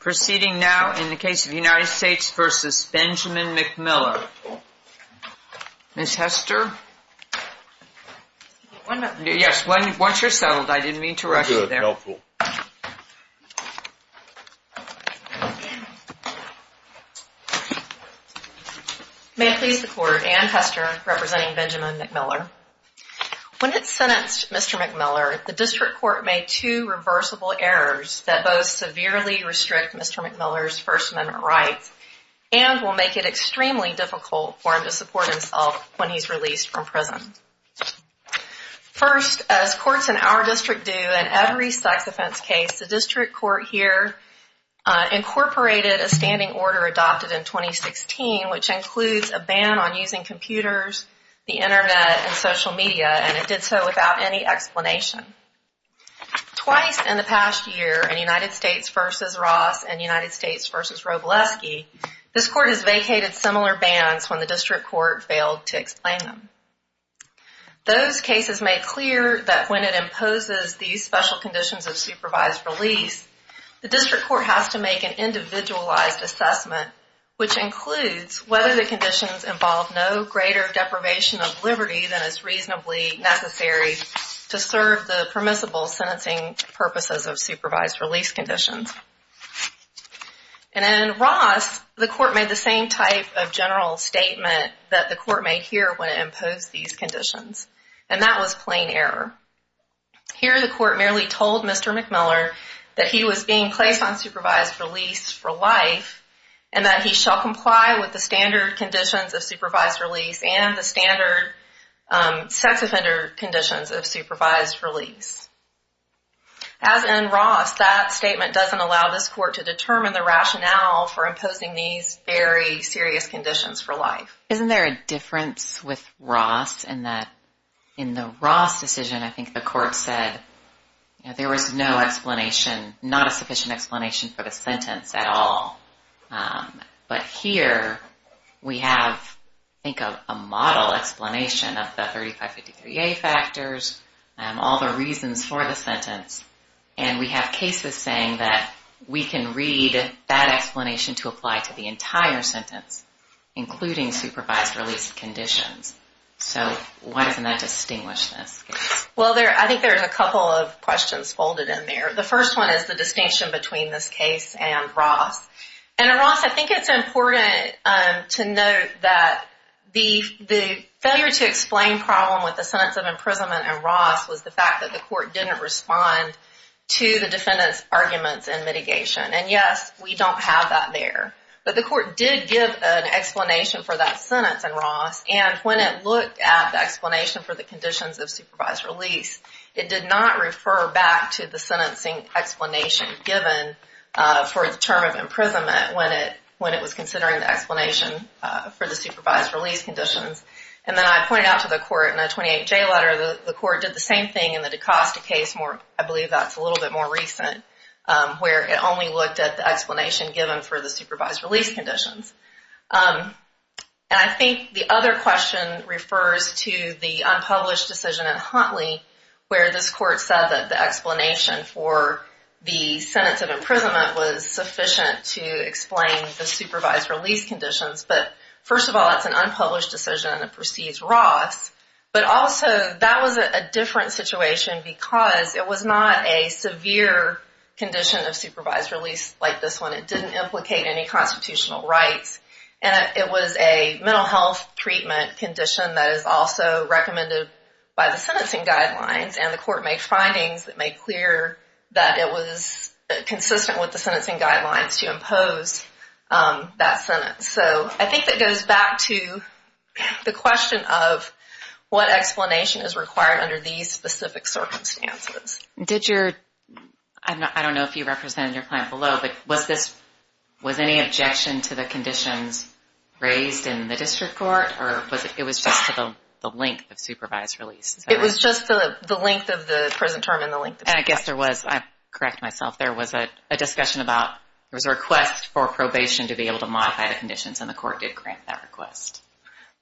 Proceeding now in the case of United States v. Benjamin McMiller Ms. Hester? Yes, once you're settled, I didn't mean to rush you there. Good. Helpful. May it please the Court, Anne Hester representing Benjamin McMiller. When it sentenced Mr. McMiller, the District Court made two reversible errors that both severely restrict Mr. McMiller's First Amendment rights and will make it extremely difficult for him to support himself when he's released from prison. First, as courts in our district do in every sex offense case, the District Court here incorporated a standing order adopted in 2016 which includes a ban on using computers, the internet, and social media and it did so without any explanation. Twice in the past year in United States v. Ross and United States v. Robleski, this Court has vacated similar bans when the District Court failed to explain them. Those cases made clear that when it imposes these special conditions of supervised release, the District Court has to make an individualized assessment which includes whether the conditions involve no greater deprivation of liberty than is reasonably necessary to serve the permissible sentencing purposes of supervised release conditions. And in Ross, the Court made the same type of general statement that the Court made here when it imposed these conditions, and that was plain error. Here the Court merely told Mr. McMiller that he was being placed on supervised release for life and that he shall comply with the standard conditions of supervised release and the standard sex offender conditions of supervised release. As in Ross, that statement doesn't allow this Court to determine the rationale for imposing these very serious conditions for life. Isn't there a difference with Ross in that in the Ross decision, I think the Court said there was no explanation, not a sufficient explanation for the sentence at all. But here we have, I think, a model explanation of the 3553A factors and all the reasons for the sentence, and we have cases saying that we can read that explanation to apply to the entire sentence, including supervised release conditions. So why doesn't that distinguish this case? Well, I think there's a couple of questions folded in there. The first one is the distinction between this case and Ross. And in Ross, I think it's important to note that the failure to explain problem with the sentence of imprisonment in Ross was the fact that the Court didn't respond to the defendant's arguments in mitigation. And yes, we don't have that there. But the Court did give an explanation for that sentence in Ross, and when it looked at the explanation for the conditions of supervised release, it did not refer back to the sentencing explanation given for the term of imprisonment when it was considering the explanation for the supervised release conditions. And then I pointed out to the Court in the 28J letter, the Court did the same thing in the DaCosta case, I believe that's a little bit more recent, where it only looked at the explanation given for the supervised release conditions. And I think the other question refers to the unpublished decision in Huntley where this Court said that the explanation for the sentence of imprisonment was sufficient to explain the supervised release conditions. But first of all, it's an unpublished decision and it precedes Ross. But also, that was a different situation because it was not a severe condition of supervised release like this one. It didn't implicate any constitutional rights. And it was a mental health treatment condition that is also recommended by the sentencing guidelines. And the Court made findings that made clear that it was consistent with the sentencing guidelines to impose that sentence. So I think that goes back to the question of what explanation is required under these specific circumstances. I don't know if you represented your client below, but was any objection to the conditions raised in the District Court? Or was it just the length of supervised release? It was just the length of the prison term and the length of the sentence. And I guess there was, I correct myself, there was a discussion about, there was a request for probation to be able to modify the conditions and the Court did grant that request.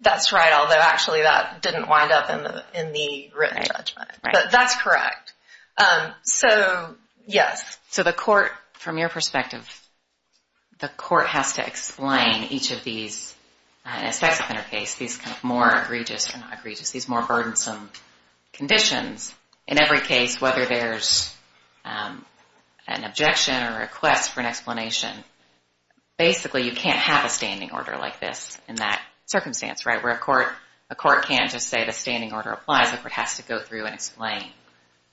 That's right, although actually that didn't wind up in the written judgment. But that's correct. So, yes. So the Court, from your perspective, the Court has to explain each of these, in a sex offender case, these kind of more egregious, not egregious, these more burdensome conditions. In every case, whether there's an objection or a request for an explanation, basically you can't have a standing order like this in that circumstance, right? Where a court can't just say the standing order applies, the Court has to go through and explain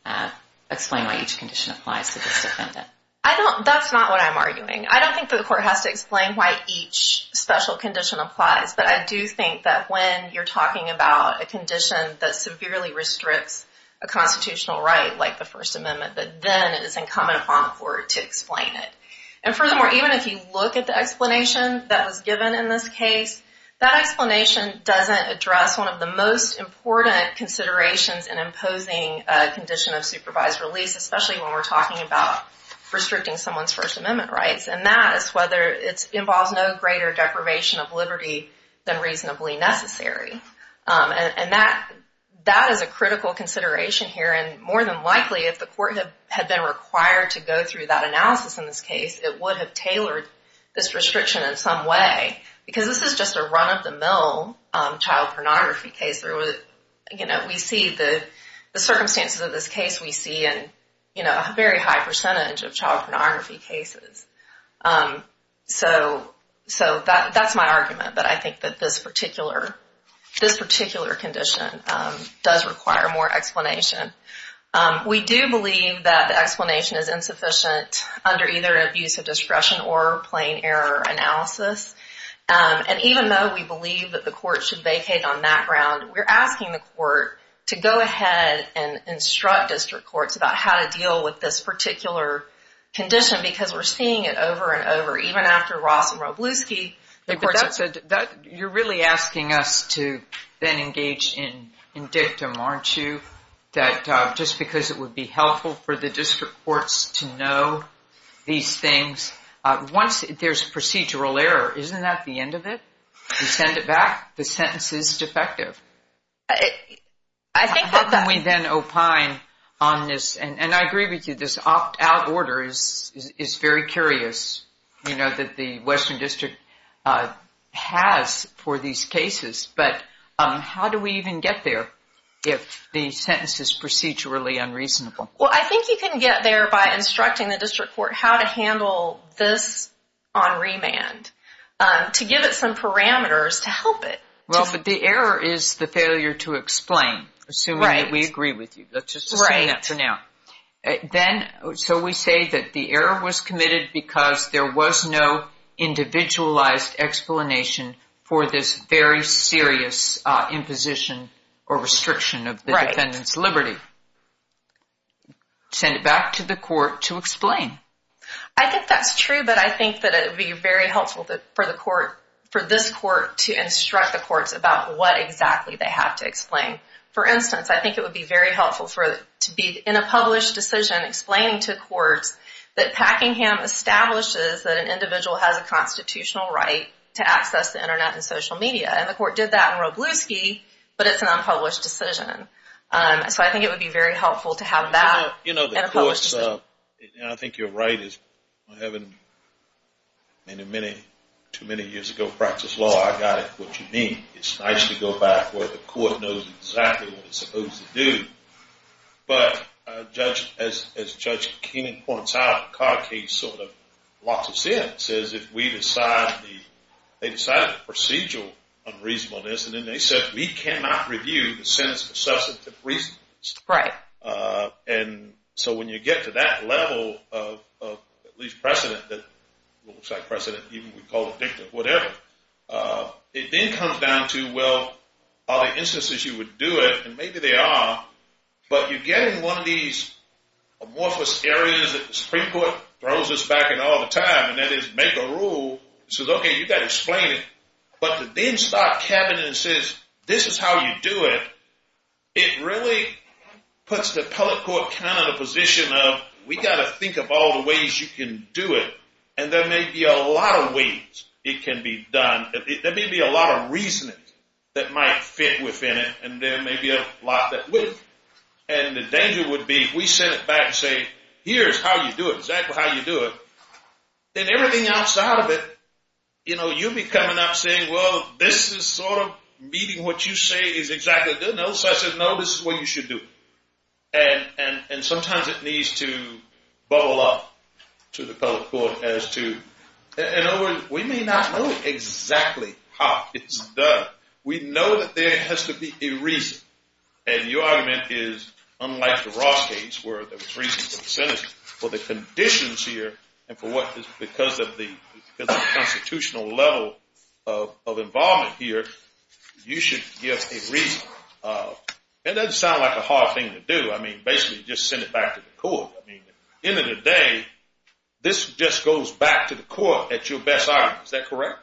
why each condition applies to this defendant. I don't, that's not what I'm arguing. I don't think that the Court has to explain why each special condition applies, but I do think that when you're talking about a condition that severely restricts a constitutional right, like the First Amendment, that then it is incumbent upon the Court to explain it. And furthermore, even if you look at the explanation that was given in this case, that explanation doesn't address one of the most important considerations in imposing a condition of supervised release, especially when we're talking about restricting someone's First Amendment rights. And that is whether it involves no greater deprivation of liberty than reasonably necessary. And that is a critical consideration here, and more than likely if the Court had been required to go through that analysis in this case, it would have tailored this restriction in some way. Because this is just a run-of-the-mill child pornography case. You know, we see the circumstances of this case, we see a very high percentage of child pornography cases. So that's my argument, but I think that this particular condition does require more explanation. We do believe that the explanation is insufficient under either abuse of discretion or plain error analysis. And even though we believe that the Court should vacate on that ground, we're asking the Court to go ahead and instruct district courts about how to deal with this particular condition, because we're seeing it over and over, even after Ross and Robluski. You're really asking us to then engage in dictum, aren't you? Just because it would be helpful for the district courts to know these things. Once there's procedural error, isn't that the end of it? You send it back, the sentence is defective. How can we then opine on this? And I agree with you, this opt-out order is very curious, you know, that the Western District has for these cases. But how do we even get there if the sentence is procedurally unreasonable? I think you can get there by instructing the district court how to handle this on remand, to give it some parameters to help it. But the error is the failure to explain, assuming that we agree with you. Let's just assume that for now. So we say that the error was committed because there was no individualized explanation for this very serious imposition or restriction of the defendant's liberty. Send it back to the court to explain. I think that's true, but I think that it would be very helpful for this court to instruct the courts about what exactly they have to explain. For instance, I think it would be very helpful to be in a published decision explaining to courts that Packingham establishes that an individual has a constitutional right to access the Internet and social media. And the court did that in Robluski, but it's an unpublished decision. So I think it would be very helpful to have that in a published decision. I think you're right. Too many years ago, practice law, I got it, what you mean. It's nice to go back where the court knows exactly what it's supposed to do. But as Judge Keenan points out, the Codd case sort of locks us in. It says if we decide the procedural unreasonableness, and then they said we cannot review the sentence for substantive reasons. Right. So when you get to that level of at least precedent that looks like precedent, even we call it dicta, whatever, it then comes down to, well, are the instances you would do it? And maybe they are. But you're getting one of these amorphous areas that the Supreme Court throws us back in all the time, and that is make a rule that says, okay, you've got to explain it. But to then start cabbing and says this is how you do it, it really puts the appellate court kind of in a position of we've got to think of all the ways you can do it. And there may be a lot of ways it can be done. There may be a lot of reasoning that might fit within it, and there may be a lot that wouldn't. And the danger would be if we sent it back and say, here's how you do it, exactly how you do it, then everything outside of it, you know, you'll be coming up saying, well, this is sort of meeting what you say is exactly good enough. So I said, no, this is what you should do. And sometimes it needs to bubble up to the appellate court as to, you know, we may not know exactly how it's done. We know that there has to be a reason. And your argument is, unlike the Ross case, where there was reason for the sentence, for the conditions here and for what is because of the constitutional level of involvement here, you should give a reason. And that doesn't sound like a hard thing to do. I mean, basically just send it back to the court. I mean, at the end of the day, this just goes back to the court at your best honor. Is that correct?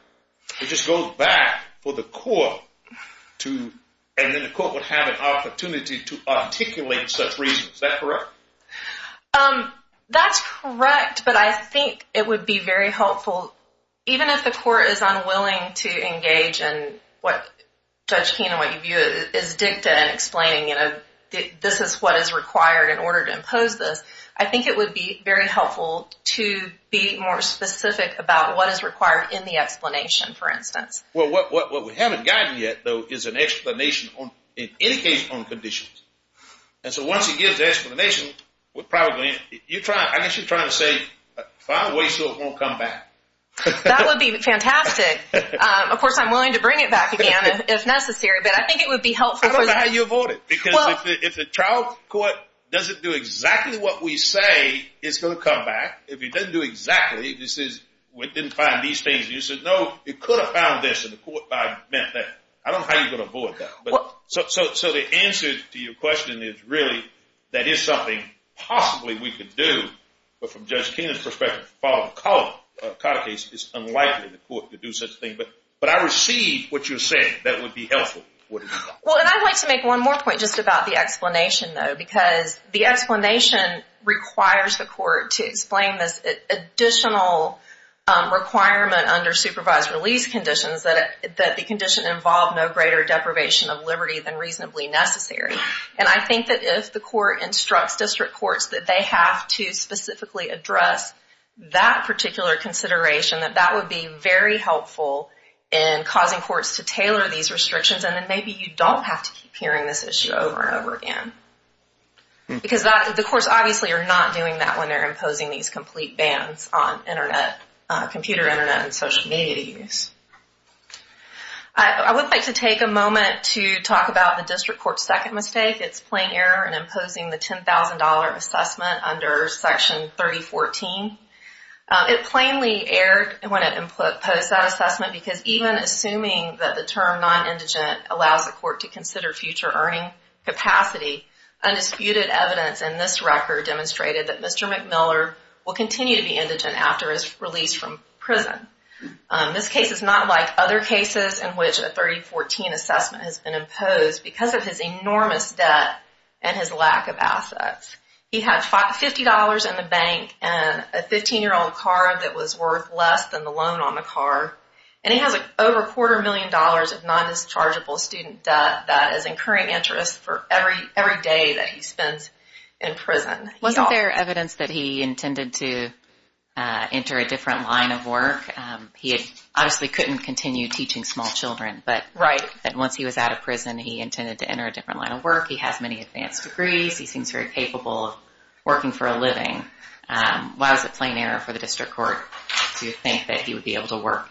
It just goes back for the court to, and then the court would have an opportunity to articulate such reasons. Is that correct? That's correct. But I think it would be very helpful, even if the court is unwilling to engage in what Judge Keenan, what you view as dicta and explaining, you know, this is what is required in order to impose this. I think it would be very helpful to be more specific about what is required in the explanation, for instance. Well, what we haven't gotten yet, though, is an explanation in any case on conditions. And so once he gives the explanation, we're probably, I guess you're trying to say find a way so it won't come back. That would be fantastic. Of course, I'm willing to bring it back again if necessary, but I think it would be helpful. I don't know how you avoid it. Because if the trial court doesn't do exactly what we say, it's going to come back. If it doesn't do exactly, if it says we didn't find these things, and you said, no, it could have found this, and the court might have meant that. I don't know how you're going to avoid that. So the answer to your question is really that it's something possibly we could do, but from Judge Keenan's perspective, following the Carter case, it's unlikely the court could do such a thing. But I received what you said that would be helpful. Well, and I'd like to make one more point just about the explanation, though, because the explanation requires the court to explain this additional requirement under supervised release conditions that the condition involved no greater deprivation of liberty than reasonably necessary. And I think that if the court instructs district courts that they have to specifically address that particular consideration, that that would be very helpful in causing courts to tailor these restrictions, and then maybe you don't have to keep hearing this issue over and over again. Because the courts obviously are not doing that when they're imposing these complete bans on Internet, computer Internet and social media use. I would like to take a moment to talk about the district court's second mistake. It's plain error in imposing the $10,000 assessment under Section 3014. It plainly erred when it imposed that assessment because even assuming that the term non-indigent allows the court to consider future earning capacity, undisputed evidence in this record demonstrated that Mr. McMiller will continue to be indigent after his release from prison. This case is not like other cases in which a 3014 assessment has been imposed because of his enormous debt and his lack of assets. He had $50 in the bank and a 15-year-old car that was worth less than the loan on the car, and he has over a quarter million dollars of non-dischargeable student debt that is incurring interest for every day that he spends in prison. Wasn't there evidence that he intended to enter a different line of work? He obviously couldn't continue teaching small children, but once he was out of prison, he intended to enter a different line of work. He has many advanced degrees. He seems very capable of working for a living. Why was it plain error for the district court to think that he would be able to work?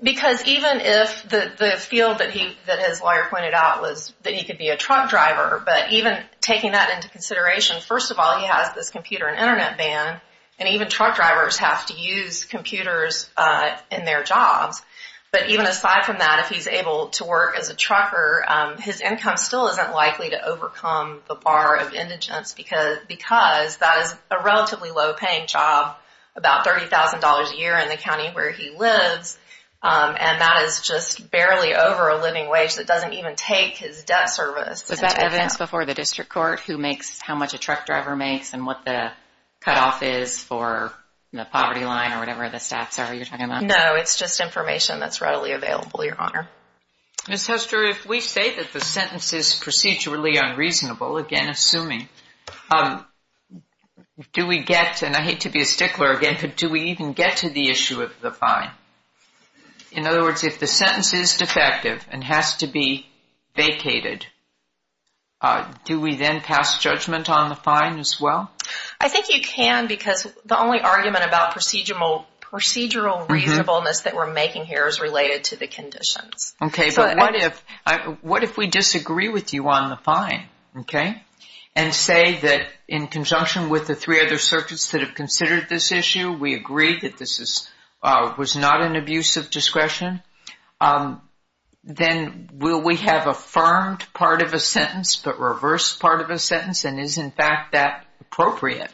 Because even if the field that his lawyer pointed out was that he could be a truck driver, but even taking that into consideration, first of all, he has this computer and Internet ban, and even truck drivers have to use computers in their jobs, but even aside from that, if he's able to work as a trucker, his income still isn't likely to overcome the bar of indigence because that is a relatively low-paying job, about $30,000 a year in the county where he lives, and that is just barely over a living wage. It doesn't even take his debt service. Was that evidence before the district court who makes how much a truck driver makes and what the cutoff is for the poverty line or whatever the stats are you're talking about? No, it's just information that's readily available, Your Honor. Ms. Hester, if we say that the sentence is procedurally unreasonable, again assuming, do we get, and I hate to be a stickler again, but do we even get to the issue of the fine? In other words, if the sentence is defective and has to be vacated, do we then pass judgment on the fine as well? I think you can because the only argument about procedural reasonableness that we're making here is related to the conditions. Okay, but what if we disagree with you on the fine, okay, and say that in conjunction with the three other circuits that have considered this issue, we agree that this was not an abuse of discretion, then will we have affirmed part of a sentence but reversed part of a sentence and is, in fact, that appropriate?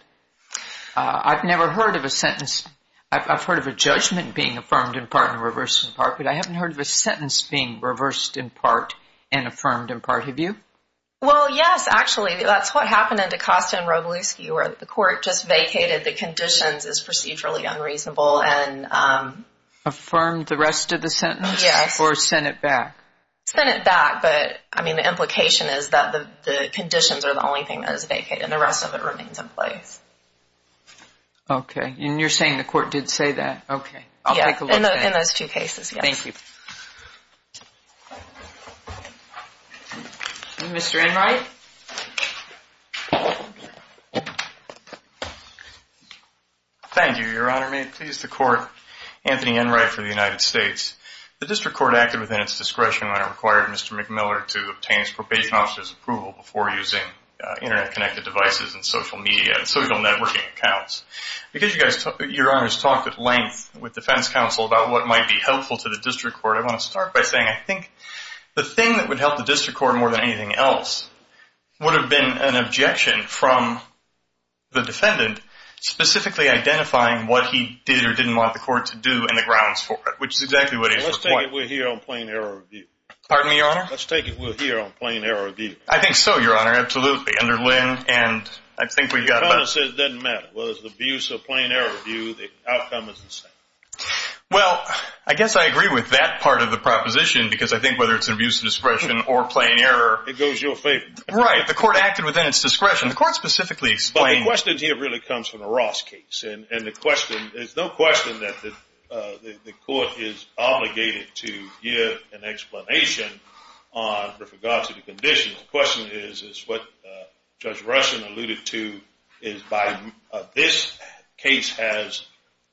I've never heard of a sentence, I've heard of a judgment being affirmed in part and reversed in part, but I haven't heard of a sentence being reversed in part and affirmed in part. Have you? Well, yes, actually. That's what happened in DaCosta and Robluski where the court just vacated the conditions as procedurally unreasonable and Affirmed the rest of the sentence? Yes. Or sent it back? Sent it back, but, I mean, the implication is that the conditions are the only thing that is vacated and the rest of it remains in place. Okay, and you're saying the court did say that? Okay. I'll take a look at that. In those two cases, yes. Thank you. Mr. Enright? Thank you, Your Honor. May it please the court, Anthony Enright for the United States. The district court acted within its discretion when it required Mr. before using Internet-connected devices and social media and social networking accounts. Because Your Honor's talked at length with defense counsel about what might be helpful to the district court, I want to start by saying I think the thing that would help the district court more than anything else would have been an objection from the defendant specifically identifying what he did or didn't want the court to do and the grounds for it, which is exactly what he's required. Let's take it we're here on plain error review. Pardon me, Your Honor? Let's take it we're here on plain error review. I think so, Your Honor. Absolutely. Under Lynn and I think we've got about – Your Honor says it doesn't matter. Whether it's abuse or plain error review, the outcome is the same. Well, I guess I agree with that part of the proposition because I think whether it's abuse of discretion or plain error – It goes your favor. Right. The court acted within its discretion. The court specifically explained – But the question here really comes from the Ross case. And the question – there's no question that the court is obligated to give an explanation with regard to the conditions. The question is what Judge Ruskin alluded to is by this case has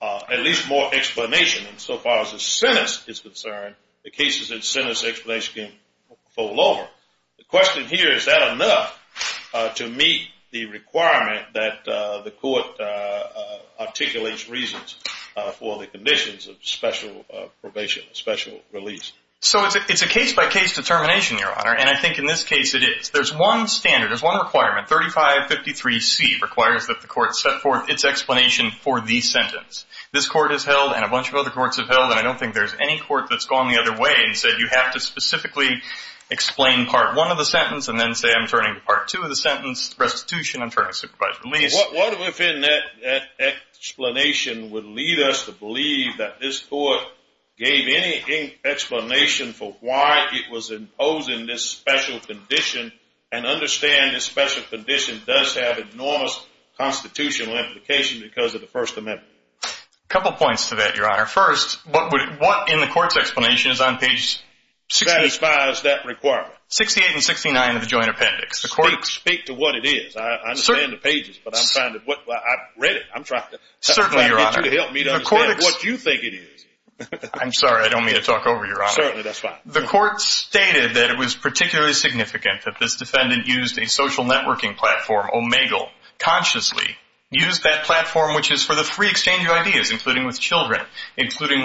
at least more explanation. And so far as the sentence is concerned, the case is a sentence explanation can fall over. The question here is that enough to meet the requirement that the court articulates reasons for the conditions of special probation, special release? So it's a case-by-case determination, Your Honor. And I think in this case it is. There's one standard. There's one requirement. 3553C requires that the court set forth its explanation for the sentence. This court has held and a bunch of other courts have held and I don't think there's any court that's gone the other way and said you have to specifically explain part one of the sentence and then say I'm turning to part two of the sentence, restitution, I'm turning to supervised release. What within that explanation would lead us to believe that this court gave any explanation for why it was imposing this special condition and understand this special condition does have enormous constitutional implications because of the First Amendment? A couple points to that, Your Honor. First, what in the court's explanation is on page 65? What satisfies that requirement? 68 and 69 of the joint appendix. Speak to what it is. I understand the pages, but I'm trying to read it. I'm trying to get you to help me to understand what you think it is. I'm sorry, I don't mean to talk over you, Your Honor. Certainly, that's fine. The court stated that it was particularly significant that this defendant used a social networking platform, Omegle, consciously used that platform, which is for the free exchange of ideas, including with children, including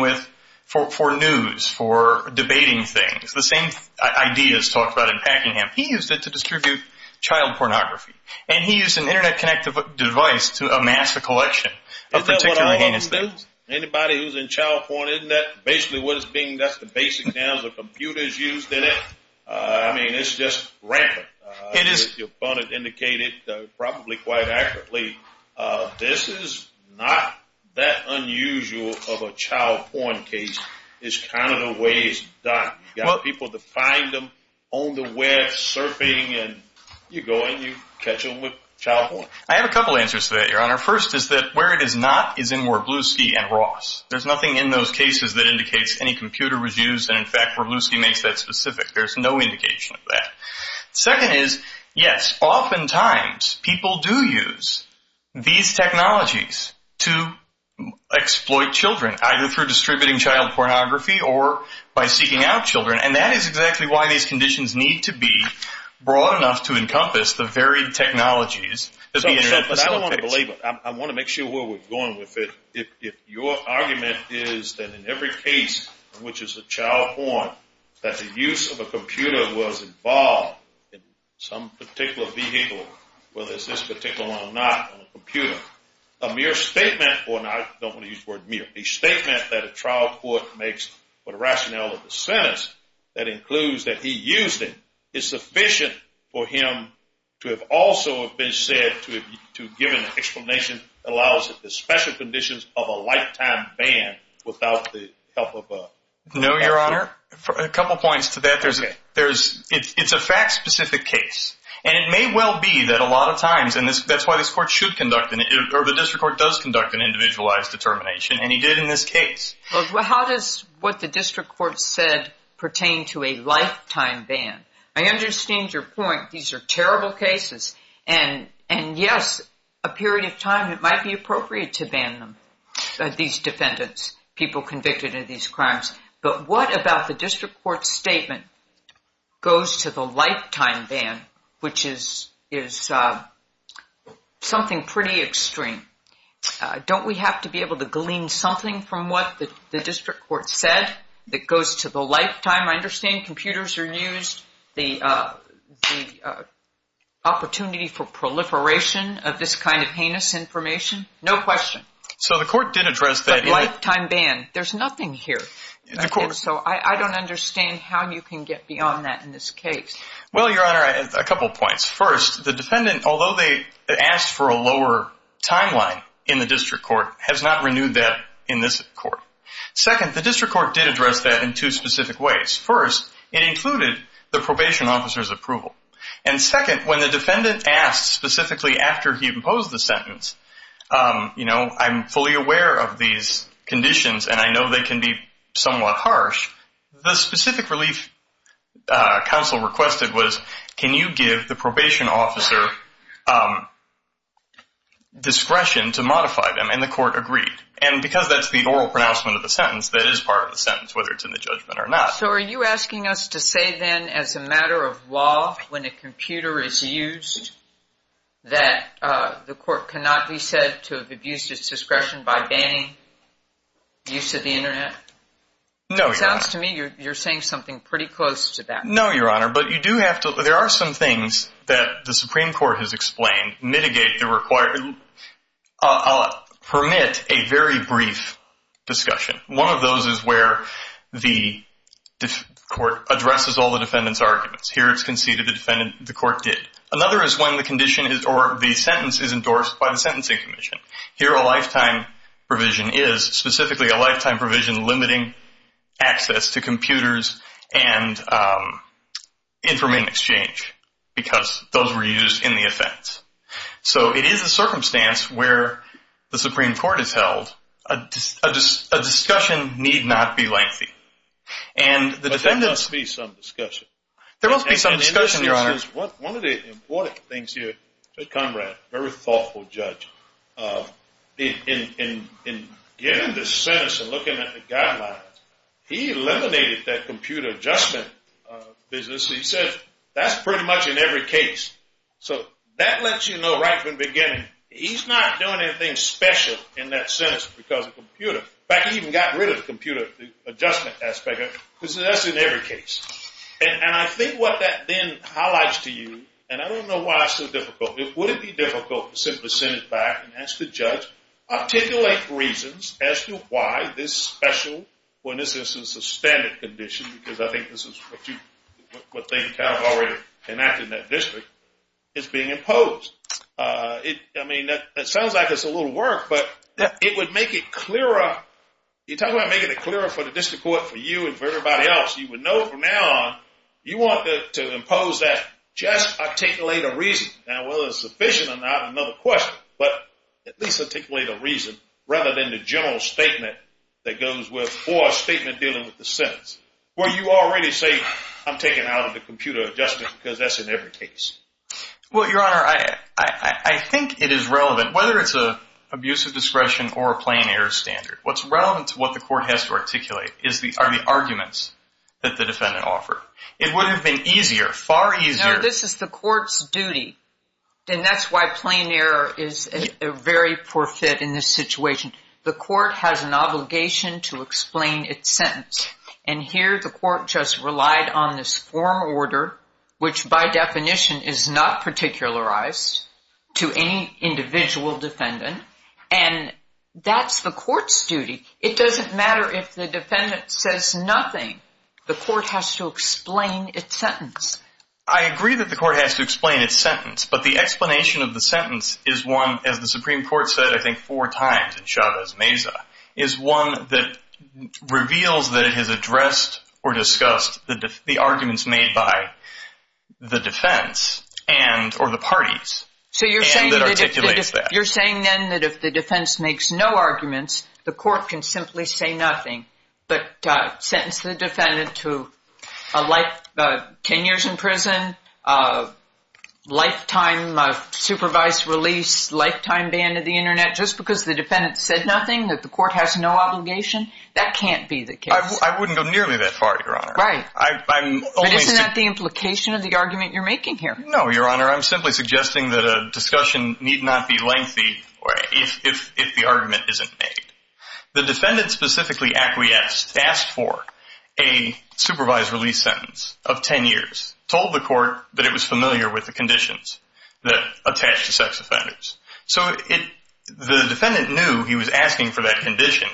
for news, for debating things, the same ideas talked about in Packingham. He used it to distribute child pornography, and he used an Internet-connected device to amass a collection of particularly heinous things. Isn't that what a home is? Anybody who's in child porn, isn't that basically what it's being? That's the basic now. The computer's used in it. I mean, it's just rampant. Your opponent indicated probably quite accurately this is not that unusual of a time. You got people to find them on the web, surfing, and you go in, you catch them with child porn. I have a couple answers to that, Your Honor. First is that where it is not is in Warblowski and Ross. There's nothing in those cases that indicates any computer was used, and, in fact, Warblowski makes that specific. There's no indication of that. Second is, yes, oftentimes people do use these technologies to exploit children, either through distributing child pornography or by seeking out children, and that is exactly why these conditions need to be broad enough to encompass the varied technologies that the Internet facilitates. I want to make sure where we're going with it. If your argument is that in every case, which is a child porn, that the use of a computer was involved in some particular vehicle, whether it's this particular one or not on a computer, a mere statement or not, I don't want to use the word mere, a statement that a trial court makes for the rationale of the sentence that includes that he used it is sufficient for him to have also been said to have given an explanation that allows the special conditions of a lifetime ban without the help of a lawyer. No, Your Honor. A couple points to that. It's a fact-specific case, and it may well be that a lot of times, and that's why this court should conduct, or the district court does conduct an individualized determination, and he did in this case. Well, how does what the district court said pertain to a lifetime ban? I understand your point. These are terrible cases, and yes, a period of time, it might be appropriate to ban them, these defendants, people convicted of these crimes, but what about the something pretty extreme? Don't we have to be able to glean something from what the district court said that goes to the lifetime? I understand computers are used, the opportunity for proliferation of this kind of heinous information. No question. So the court did address that. But lifetime ban. There's nothing here. So I don't understand how you can get beyond that in this case. Well, Your Honor, a couple points. First, the defendant, although they asked for a lower timeline in the district court, has not renewed that in this court. Second, the district court did address that in two specific ways. First, it included the probation officer's approval. And second, when the defendant asked specifically after he imposed the sentence, you know, I'm fully aware of these conditions and I know they can be somewhat harsh. The specific relief counsel requested was can you give the probation officer discretion to modify them? And the court agreed. And because that's the oral pronouncement of the sentence, that is part of the sentence, whether it's in the judgment or not. So are you asking us to say then as a matter of law when a computer is used that the court cannot be said to have abused its discretion by banning use of the Internet? No, Your Honor. It sounds to me you're saying something pretty close to that. No, Your Honor. But you do have to – there are some things that the Supreme Court has explained mitigate the required – permit a very brief discussion. One of those is where the court addresses all the defendant's arguments. Here it's conceded the defendant – the court did. Another is when the condition is – or the sentence is endorsed by the Sentencing Commission. Here a lifetime provision is specifically a lifetime provision limiting access to computers and information exchange because those were used in the offense. So it is a circumstance where the Supreme Court has held a discussion need not be lengthy. But there must be some discussion. There must be some discussion, Your Honor. One of the important things here, Judge Conrad, a very thoughtful judge, in getting the sentence and looking at the guidelines, he eliminated that computer adjustment business. He said that's pretty much in every case. So that lets you know right from the beginning he's not doing anything special in that sentence because of the computer. In fact, he even got rid of the computer adjustment aspect because that's in every case. And I think what that then highlights to you, and I don't know why it's so difficult. Would it be difficult to simply send it back and ask the judge, articulate reasons as to why this special or in this instance a standard condition, because I think this is what they've already enacted in that district, is being imposed. I mean, that sounds like it's a little work, but it would make it clearer. You're talking about making it clearer for the district court, for you, and for everybody else. You would know from now on you want to impose that just articulate a reason. Now, whether it's sufficient or not is another question, but at least articulate a reason rather than the general statement that goes with or a statement dealing with the sentence, where you already say I'm taking out of the computer adjustment because that's in every case. Well, Your Honor, I think it is relevant, whether it's an abusive discretion or a plain error standard. What's relevant to what the court has to articulate are the arguments that the defendant offered. It would have been easier, far easier. No, this is the court's duty, and that's why plain error is a very poor fit in this situation. The court has an obligation to explain its sentence, and here the court just relied on this form order, which by definition is not particularized to any individual defendant, and that's the court's duty. It doesn't matter if the defendant says nothing. The court has to explain its sentence. I agree that the court has to explain its sentence, but the explanation of the sentence is one, as the Supreme Court said, I think, four times in Chavez-Meza, is one that reveals that it has addressed or discussed the arguments made by the defense or the parties that articulate that. You're saying then that if the defense makes no arguments, the court can simply say nothing, but sentence the defendant to 10 years in prison, lifetime supervised release, lifetime ban of the Internet, just because the defendant said nothing that the court has no obligation? That can't be the case. I wouldn't go nearly that far, Your Honor. Right. But isn't that the implication of the argument you're making here? No, Your Honor. I'm simply suggesting that a discussion need not be lengthy if the argument isn't made. The defendant specifically acquiesced, asked for a supervised release sentence of 10 years, told the court that it was familiar with the conditions that attach to sex offenders. So the defendant knew he was asking for that condition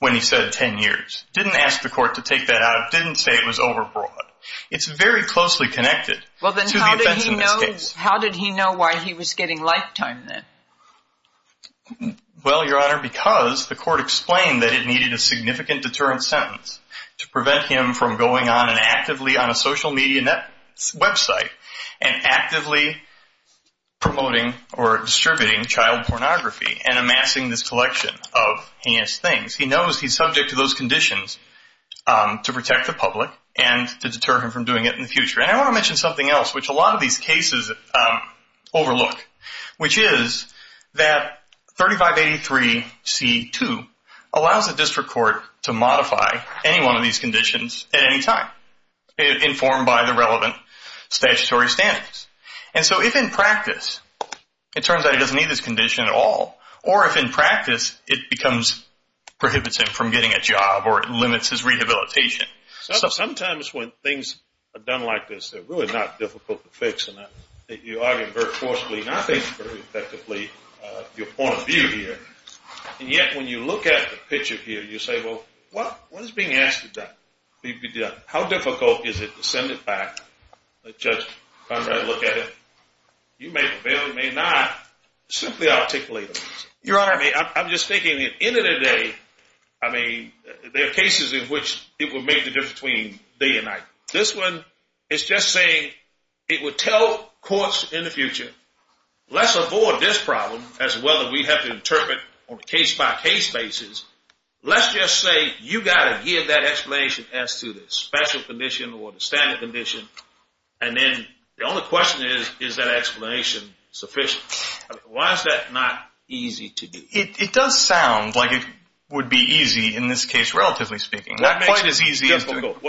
when he said 10 years, didn't ask the court to take that out, didn't say it was overbroad. It's very closely connected to the offense in this case. How did he know why he was getting lifetime then? Well, Your Honor, because the court explained that it needed a significant deterrent sentence to prevent him from going on and actively on a social media website and actively promoting or distributing child pornography and amassing this collection of heinous things. He knows he's subject to those conditions to protect the public and to deter him from doing it in the future. And I want to mention something else which a lot of these cases overlook, which is that 3583C2 allows the district court to modify any one of these conditions at any time, informed by the relevant statutory standards. And so if in practice it turns out he doesn't need this condition at all or if in practice it prohibits him from getting a job or it limits his rehabilitation. Sometimes when things are done like this, they're really not difficult to fix. And you argue very forcefully and I think very effectively your point of view here. And yet when you look at the picture here, you say, well, what is being asked to be done? How difficult is it to send it back? Let Judge Conrad look at it. You may or may not simply articulate it. Your Honor, I'm just thinking at the end of the day, there are cases in which it would make the difference between day and night. This one is just saying it would tell courts in the future, let's avoid this problem as well as we have to interpret on a case-by-case basis. Let's just say you've got to give that explanation as to the special condition or the standard condition. And then the only question is, is that explanation sufficient? Why is that not easy to do? It does sound like it would be easy in this case, relatively speaking. What makes it difficult?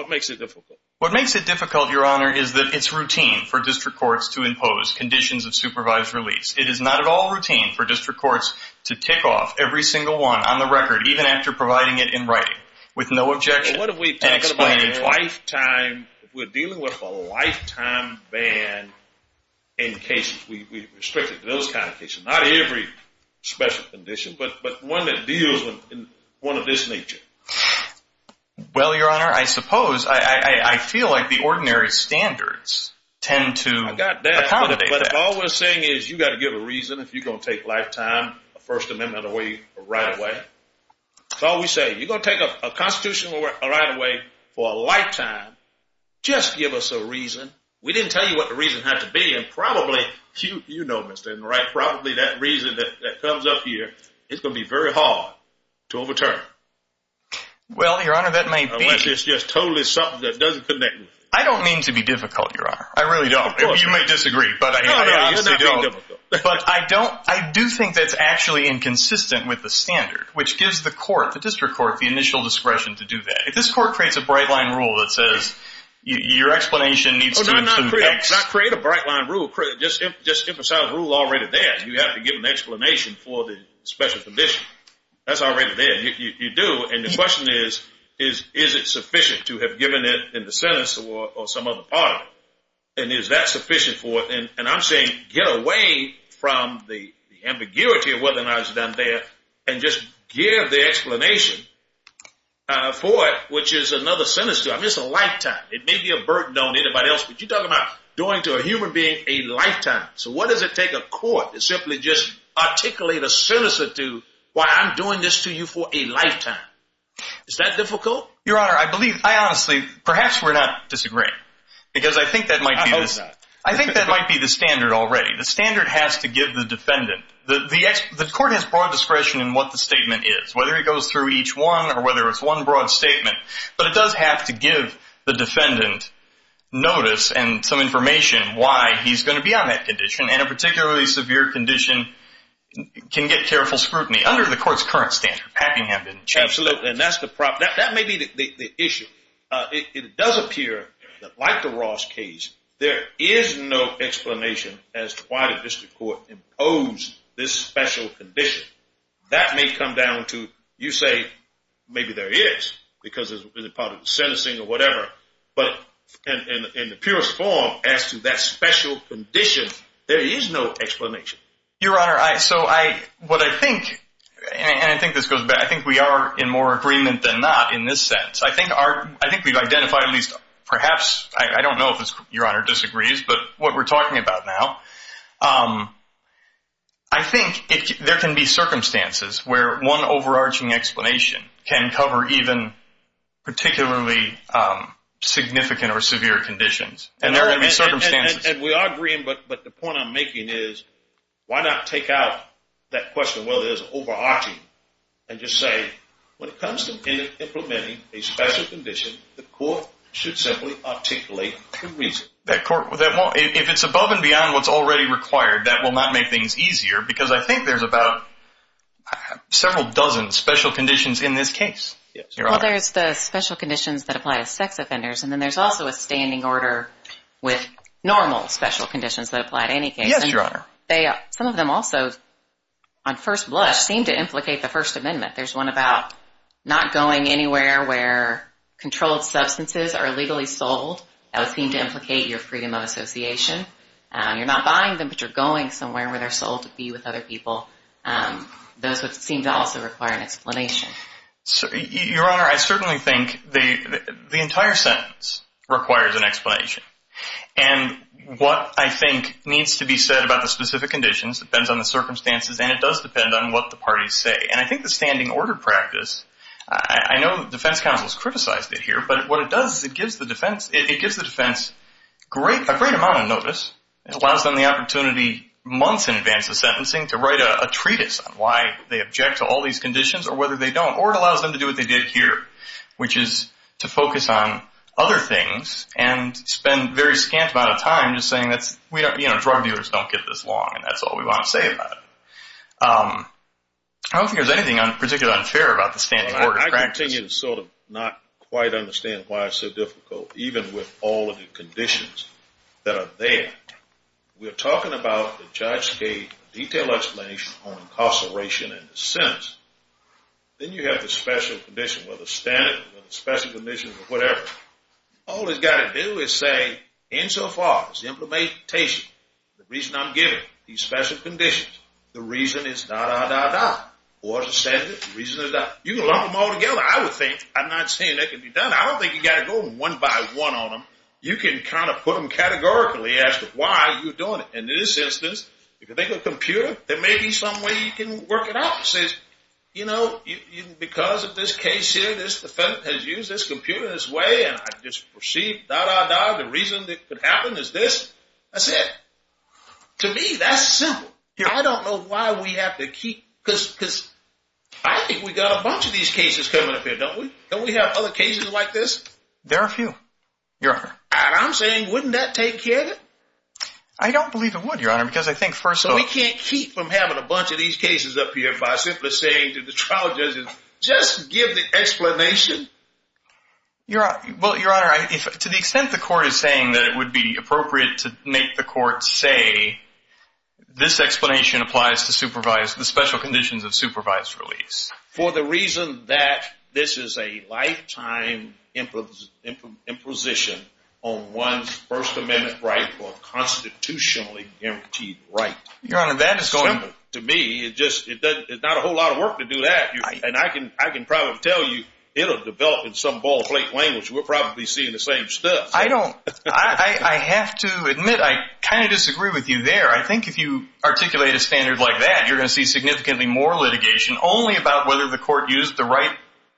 What makes it difficult, Your Honor, is that it's routine for district courts to impose conditions of supervised release. It is not at all routine for district courts to tick off every single one on the record, even after providing it in writing with no objection. What if we're dealing with a lifetime ban in cases? We restrict it to those kind of cases. Not every special condition, but one that deals with one of this nature. Well, Your Honor, I suppose I feel like the ordinary standards tend to accommodate that. I've got that, but all we're saying is you've got to give a reason if you're going to take lifetime, a First Amendment right away. That's all we say. If you're going to take a constitutional right away for a lifetime, just give us a reason. We didn't tell you what the reason had to be, and probably that reason that comes up here is going to be very hard to overturn. Well, Your Honor, that may be. Unless it's just totally something that doesn't connect with it. I don't mean to be difficult, Your Honor. I really don't. You may disagree. No, no, you're not difficult. But I do think that's actually inconsistent with the standard, which gives the court, the district court, the initial discretion to do that. If this court creates a bright-line rule that says your explanation needs to include X. It does not create a bright-line rule. Just emphasize the rule already there. You have to give an explanation for the special condition. That's already there. You do, and the question is, is it sufficient to have given it in the sentence or some other part of it? And is that sufficient for it? And I'm saying get away from the ambiguity of what's been done there and just give the explanation for it, which is another sentence. It's a lifetime. It may be a burden on anybody else. But you're talking about going to a human being a lifetime. So what does it take a court to simply just articulate a citizen to why I'm doing this to you for a lifetime? Is that difficult? Your Honor, I believe, I honestly, perhaps we're not disagreeing because I think that might be the standard already. The standard has to give the defendant. The court has broad discretion in what the statement is, whether it goes through each one or whether it's one broad statement. But it does have to give the defendant notice and some information why he's going to be on that condition, and a particularly severe condition can get careful scrutiny under the court's current standard, Packingham didn't change that. Absolutely, and that may be the issue. It does appear that like the Ross case, there is no explanation as to why the district court imposed this special condition. That may come down to, you say, maybe there is, because it's part of the sentencing or whatever. But in the purest form, as to that special condition, there is no explanation. Your Honor, so what I think, and I think this goes back, I think we are in more agreement than not in this sense. I think we've identified at least perhaps, I don't know if Your Honor disagrees, but what we're talking about now, I think there can be circumstances where one overarching explanation can cover even particularly significant or severe conditions. And there are going to be circumstances. And we are agreeing, but the point I'm making is, why not take out that question, whether it's overarching, and just say, when it comes to implementing a special condition, the court should simply articulate the reason. If it's above and beyond what's already required, that will not make things easier, because I think there's about several dozen special conditions in this case. Well, there's the special conditions that apply to sex offenders, and then there's also a standing order with normal special conditions that apply to any case. Yes, Your Honor. Some of them also, on first blush, seem to implicate the First Amendment. There's one about not going anywhere where controlled substances are legally sold. That would seem to implicate your freedom of association. You're not buying them, but you're going somewhere where they're sold to be with other people. Those would seem to also require an explanation. Your Honor, I certainly think the entire sentence requires an explanation. And what I think needs to be said about the specific conditions depends on the circumstances, and it does depend on what the parties say. And I think the standing order practice, I know the defense counsel has criticized it here, but what it does is it gives the defense a great amount of notice. It allows them the opportunity months in advance of sentencing to write a treatise on why they object to all these conditions or whether they don't. Or it allows them to do what they did here, which is to focus on other things and spend a very scant amount of time just saying drug dealers don't get this long, and that's all we want to say about it. I don't think there's anything particularly unfair about the standing order practice. I continue to sort of not quite understand why it's so difficult, even with all of the conditions that are there. We're talking about the judge's gave a detailed explanation on incarceration and the sentence. Then you have the special condition, whether it's standing or the special condition or whatever. All it's got to do is say, insofar as the implementation, the reason I'm giving these special conditions, the reason it's dah, dah, dah, dah, or it's a sentence, the reason is that you lump them all together. I'm not saying that can be done. I don't think you've got to go one by one on them. You can kind of put them categorically as to why you're doing it. In this instance, if you think of a computer, there may be some way you can work it out. It says, you know, because of this case here, this defendant has used this computer in this way, and I just proceed dah, dah, dah. The reason it could happen is this. That's it. To me, that's simple. I don't know why we have to keep – because I think we've got a bunch of these cases coming up here, don't we? Don't we have other cases like this? There are a few, Your Honor. And I'm saying, wouldn't that take care of it? I don't believe it would, Your Honor, because I think first of all – So we can't keep from having a bunch of these cases up here by simply saying to the trial judges, just give the explanation? Well, Your Honor, to the extent the court is saying that it would be appropriate to make the court say, this explanation applies to the special conditions of supervised release. For the reason that this is a lifetime imposition on one's First Amendment right or constitutionally guaranteed right. Your Honor, that is simple. To me, it's not a whole lot of work to do that. And I can probably tell you it'll develop in some ball-plate language. We're probably seeing the same stuff. I don't – I have to admit, I kind of disagree with you there. I think if you articulate a standard like that, you're going to see significantly more litigation only about whether the court used the right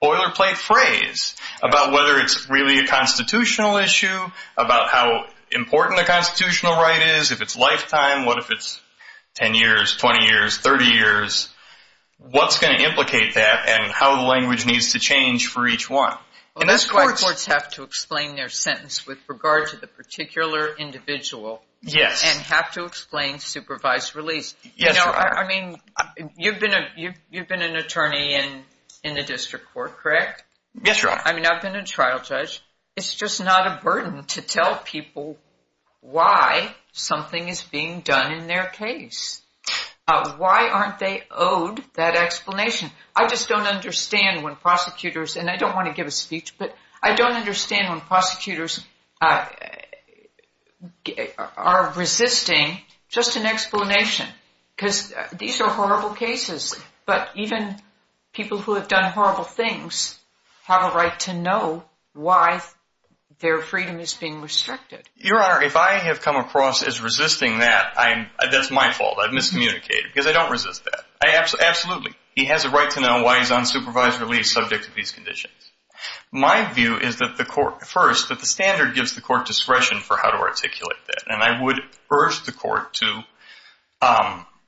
boilerplate phrase, about whether it's really a constitutional issue, about how important the constitutional right is, if it's lifetime, what if it's 10 years, 20 years, 30 years, what's going to implicate that and how the language needs to change for each one. That's why courts have to explain their sentence with regard to the particular individual and have to explain supervised release. I mean, you've been an attorney in the district court, correct? Yes, Your Honor. I mean, I've been a trial judge. It's just not a burden to tell people why something is being done in their case. Why aren't they owed that explanation? I just don't understand when prosecutors – I don't understand when prosecutors are resisting just an explanation because these are horrible cases, but even people who have done horrible things have a right to know why their freedom is being restricted. Your Honor, if I have come across as resisting that, that's my fault. I've miscommunicated because I don't resist that. Absolutely. He has a right to know why he's on supervised release if he's subject to these conditions. My view is that the court – first, that the standard gives the court discretion for how to articulate that, and I would urge the court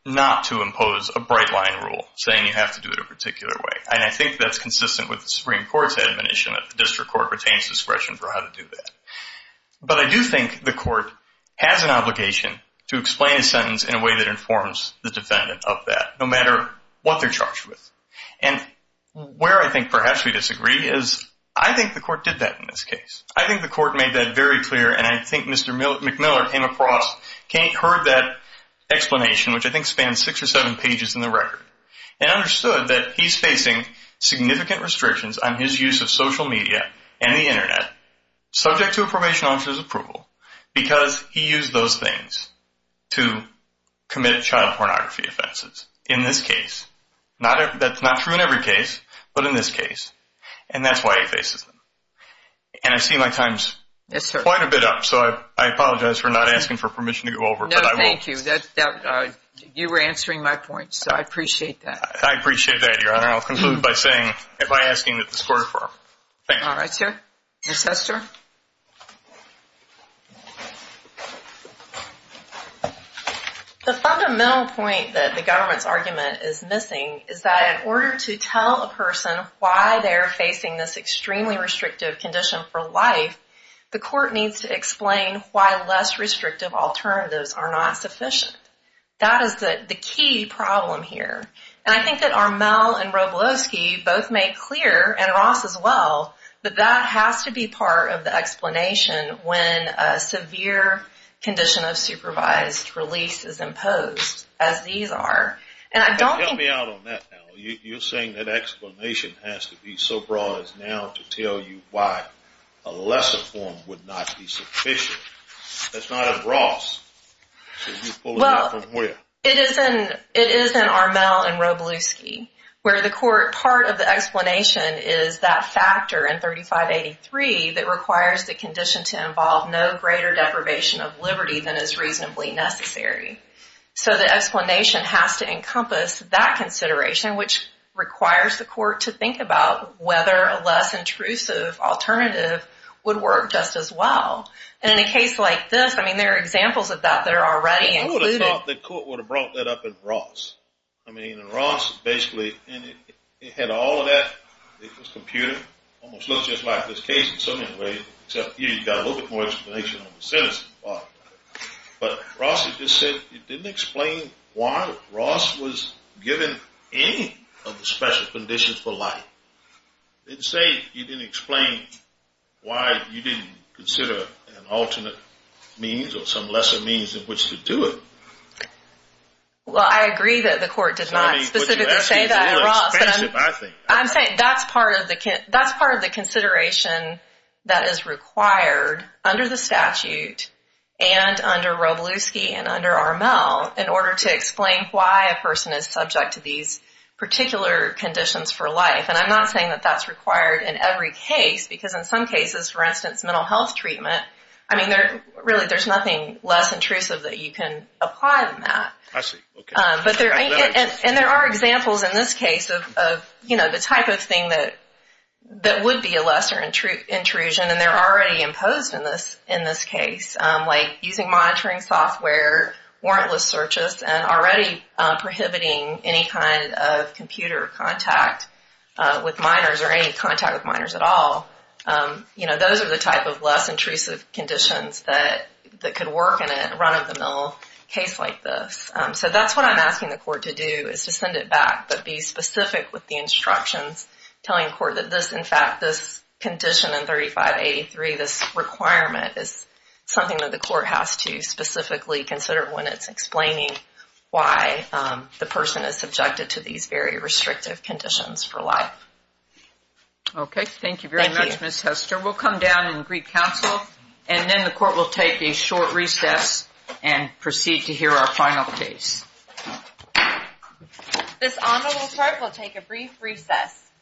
not to impose a bright-line rule saying you have to do it a particular way, and I think that's consistent with the Supreme Court's admonition that the district court retains discretion for how to do that. But I do think the court has an obligation to explain a sentence in a way that informs the defendant of that, no matter what they're charged with. And where I think perhaps we disagree is I think the court did that in this case. I think the court made that very clear, and I think Mr. McMillan came across, heard that explanation, which I think spans six or seven pages in the record, and understood that he's facing significant restrictions on his use of social media and the Internet, subject to a probation officer's approval, because he used those things to commit child pornography offenses. In this case. That's not true in every case, but in this case. And that's why he faces them. And I see my time's quite a bit up, so I apologize for not asking for permission to go over, but I will. No, thank you. You were answering my points, so I appreciate that. I appreciate that, Your Honor. I'll conclude by asking that the court affirm. Thank you. All right, sir. Ms. Hester? The fundamental point that the government's argument is missing is that in order to tell a person why they're facing this extremely restrictive condition for life, the court needs to explain why less restrictive alternatives are not sufficient. That is the key problem here. And I think that Armelle and Robloski both make clear, and Ross as well, that that has to be part of the case. It has to be part of the explanation when a severe condition of supervised release is imposed, as these are. Tell me out on that now. You're saying that explanation has to be so broad as now to tell you why a lesser form would not be sufficient. That's not as Ross. You pulled it out from where? It is in Armelle and Robloski, where the court part of the explanation is that factor in 3583 that requires the condition to involve no greater deprivation of liberty than is reasonably necessary. So the explanation has to encompass that consideration, which requires the court to think about whether a less intrusive alternative would work just as well. And in a case like this, I mean, there are examples of that that are already included. Who would have thought the court would have brought that up in Ross? I mean, in Ross, basically, it had all of that. It was computed. Almost looks just like this case in some ways, except you've got a little bit more explanation on the sentencing part of it. But Ross, it just said it didn't explain why Ross was given any of the special conditions for life. It didn't say it didn't explain why you didn't consider an alternate means or some lesser means in which to do it. Well, I agree that the court did not specifically say that in Ross. I'm saying that's part of the consideration that is required under the statute and under Robluski and under RML in order to explain why a person is subject to these particular conditions for life. And I'm not saying that that's required in every case, because in some cases, for instance, mental health treatment, I mean, really there's nothing less intrusive that you can apply than that. I see. Okay. And there are examples in this case of, you know, the type of thing that would be a lesser intrusion, and they're already imposed in this case, like using monitoring software, warrantless searches, and already prohibiting any kind of computer contact with minors or any contact with minors at all. You know, those are the type of less intrusive conditions that could work in a run-of-the-mill case like this. So that's what I'm asking the court to do, is to send it back, but be specific with the instructions telling the court that this, in fact, this condition in 3583, this requirement, is something that the court has to specifically consider when it's explaining why the person is subjected to these very restrictive conditions for life. Okay. Thank you very much, Ms. Hester. We'll come down and greet counsel, and then the court will take a short recess and proceed to hear our final case. This honorable court will take a brief recess.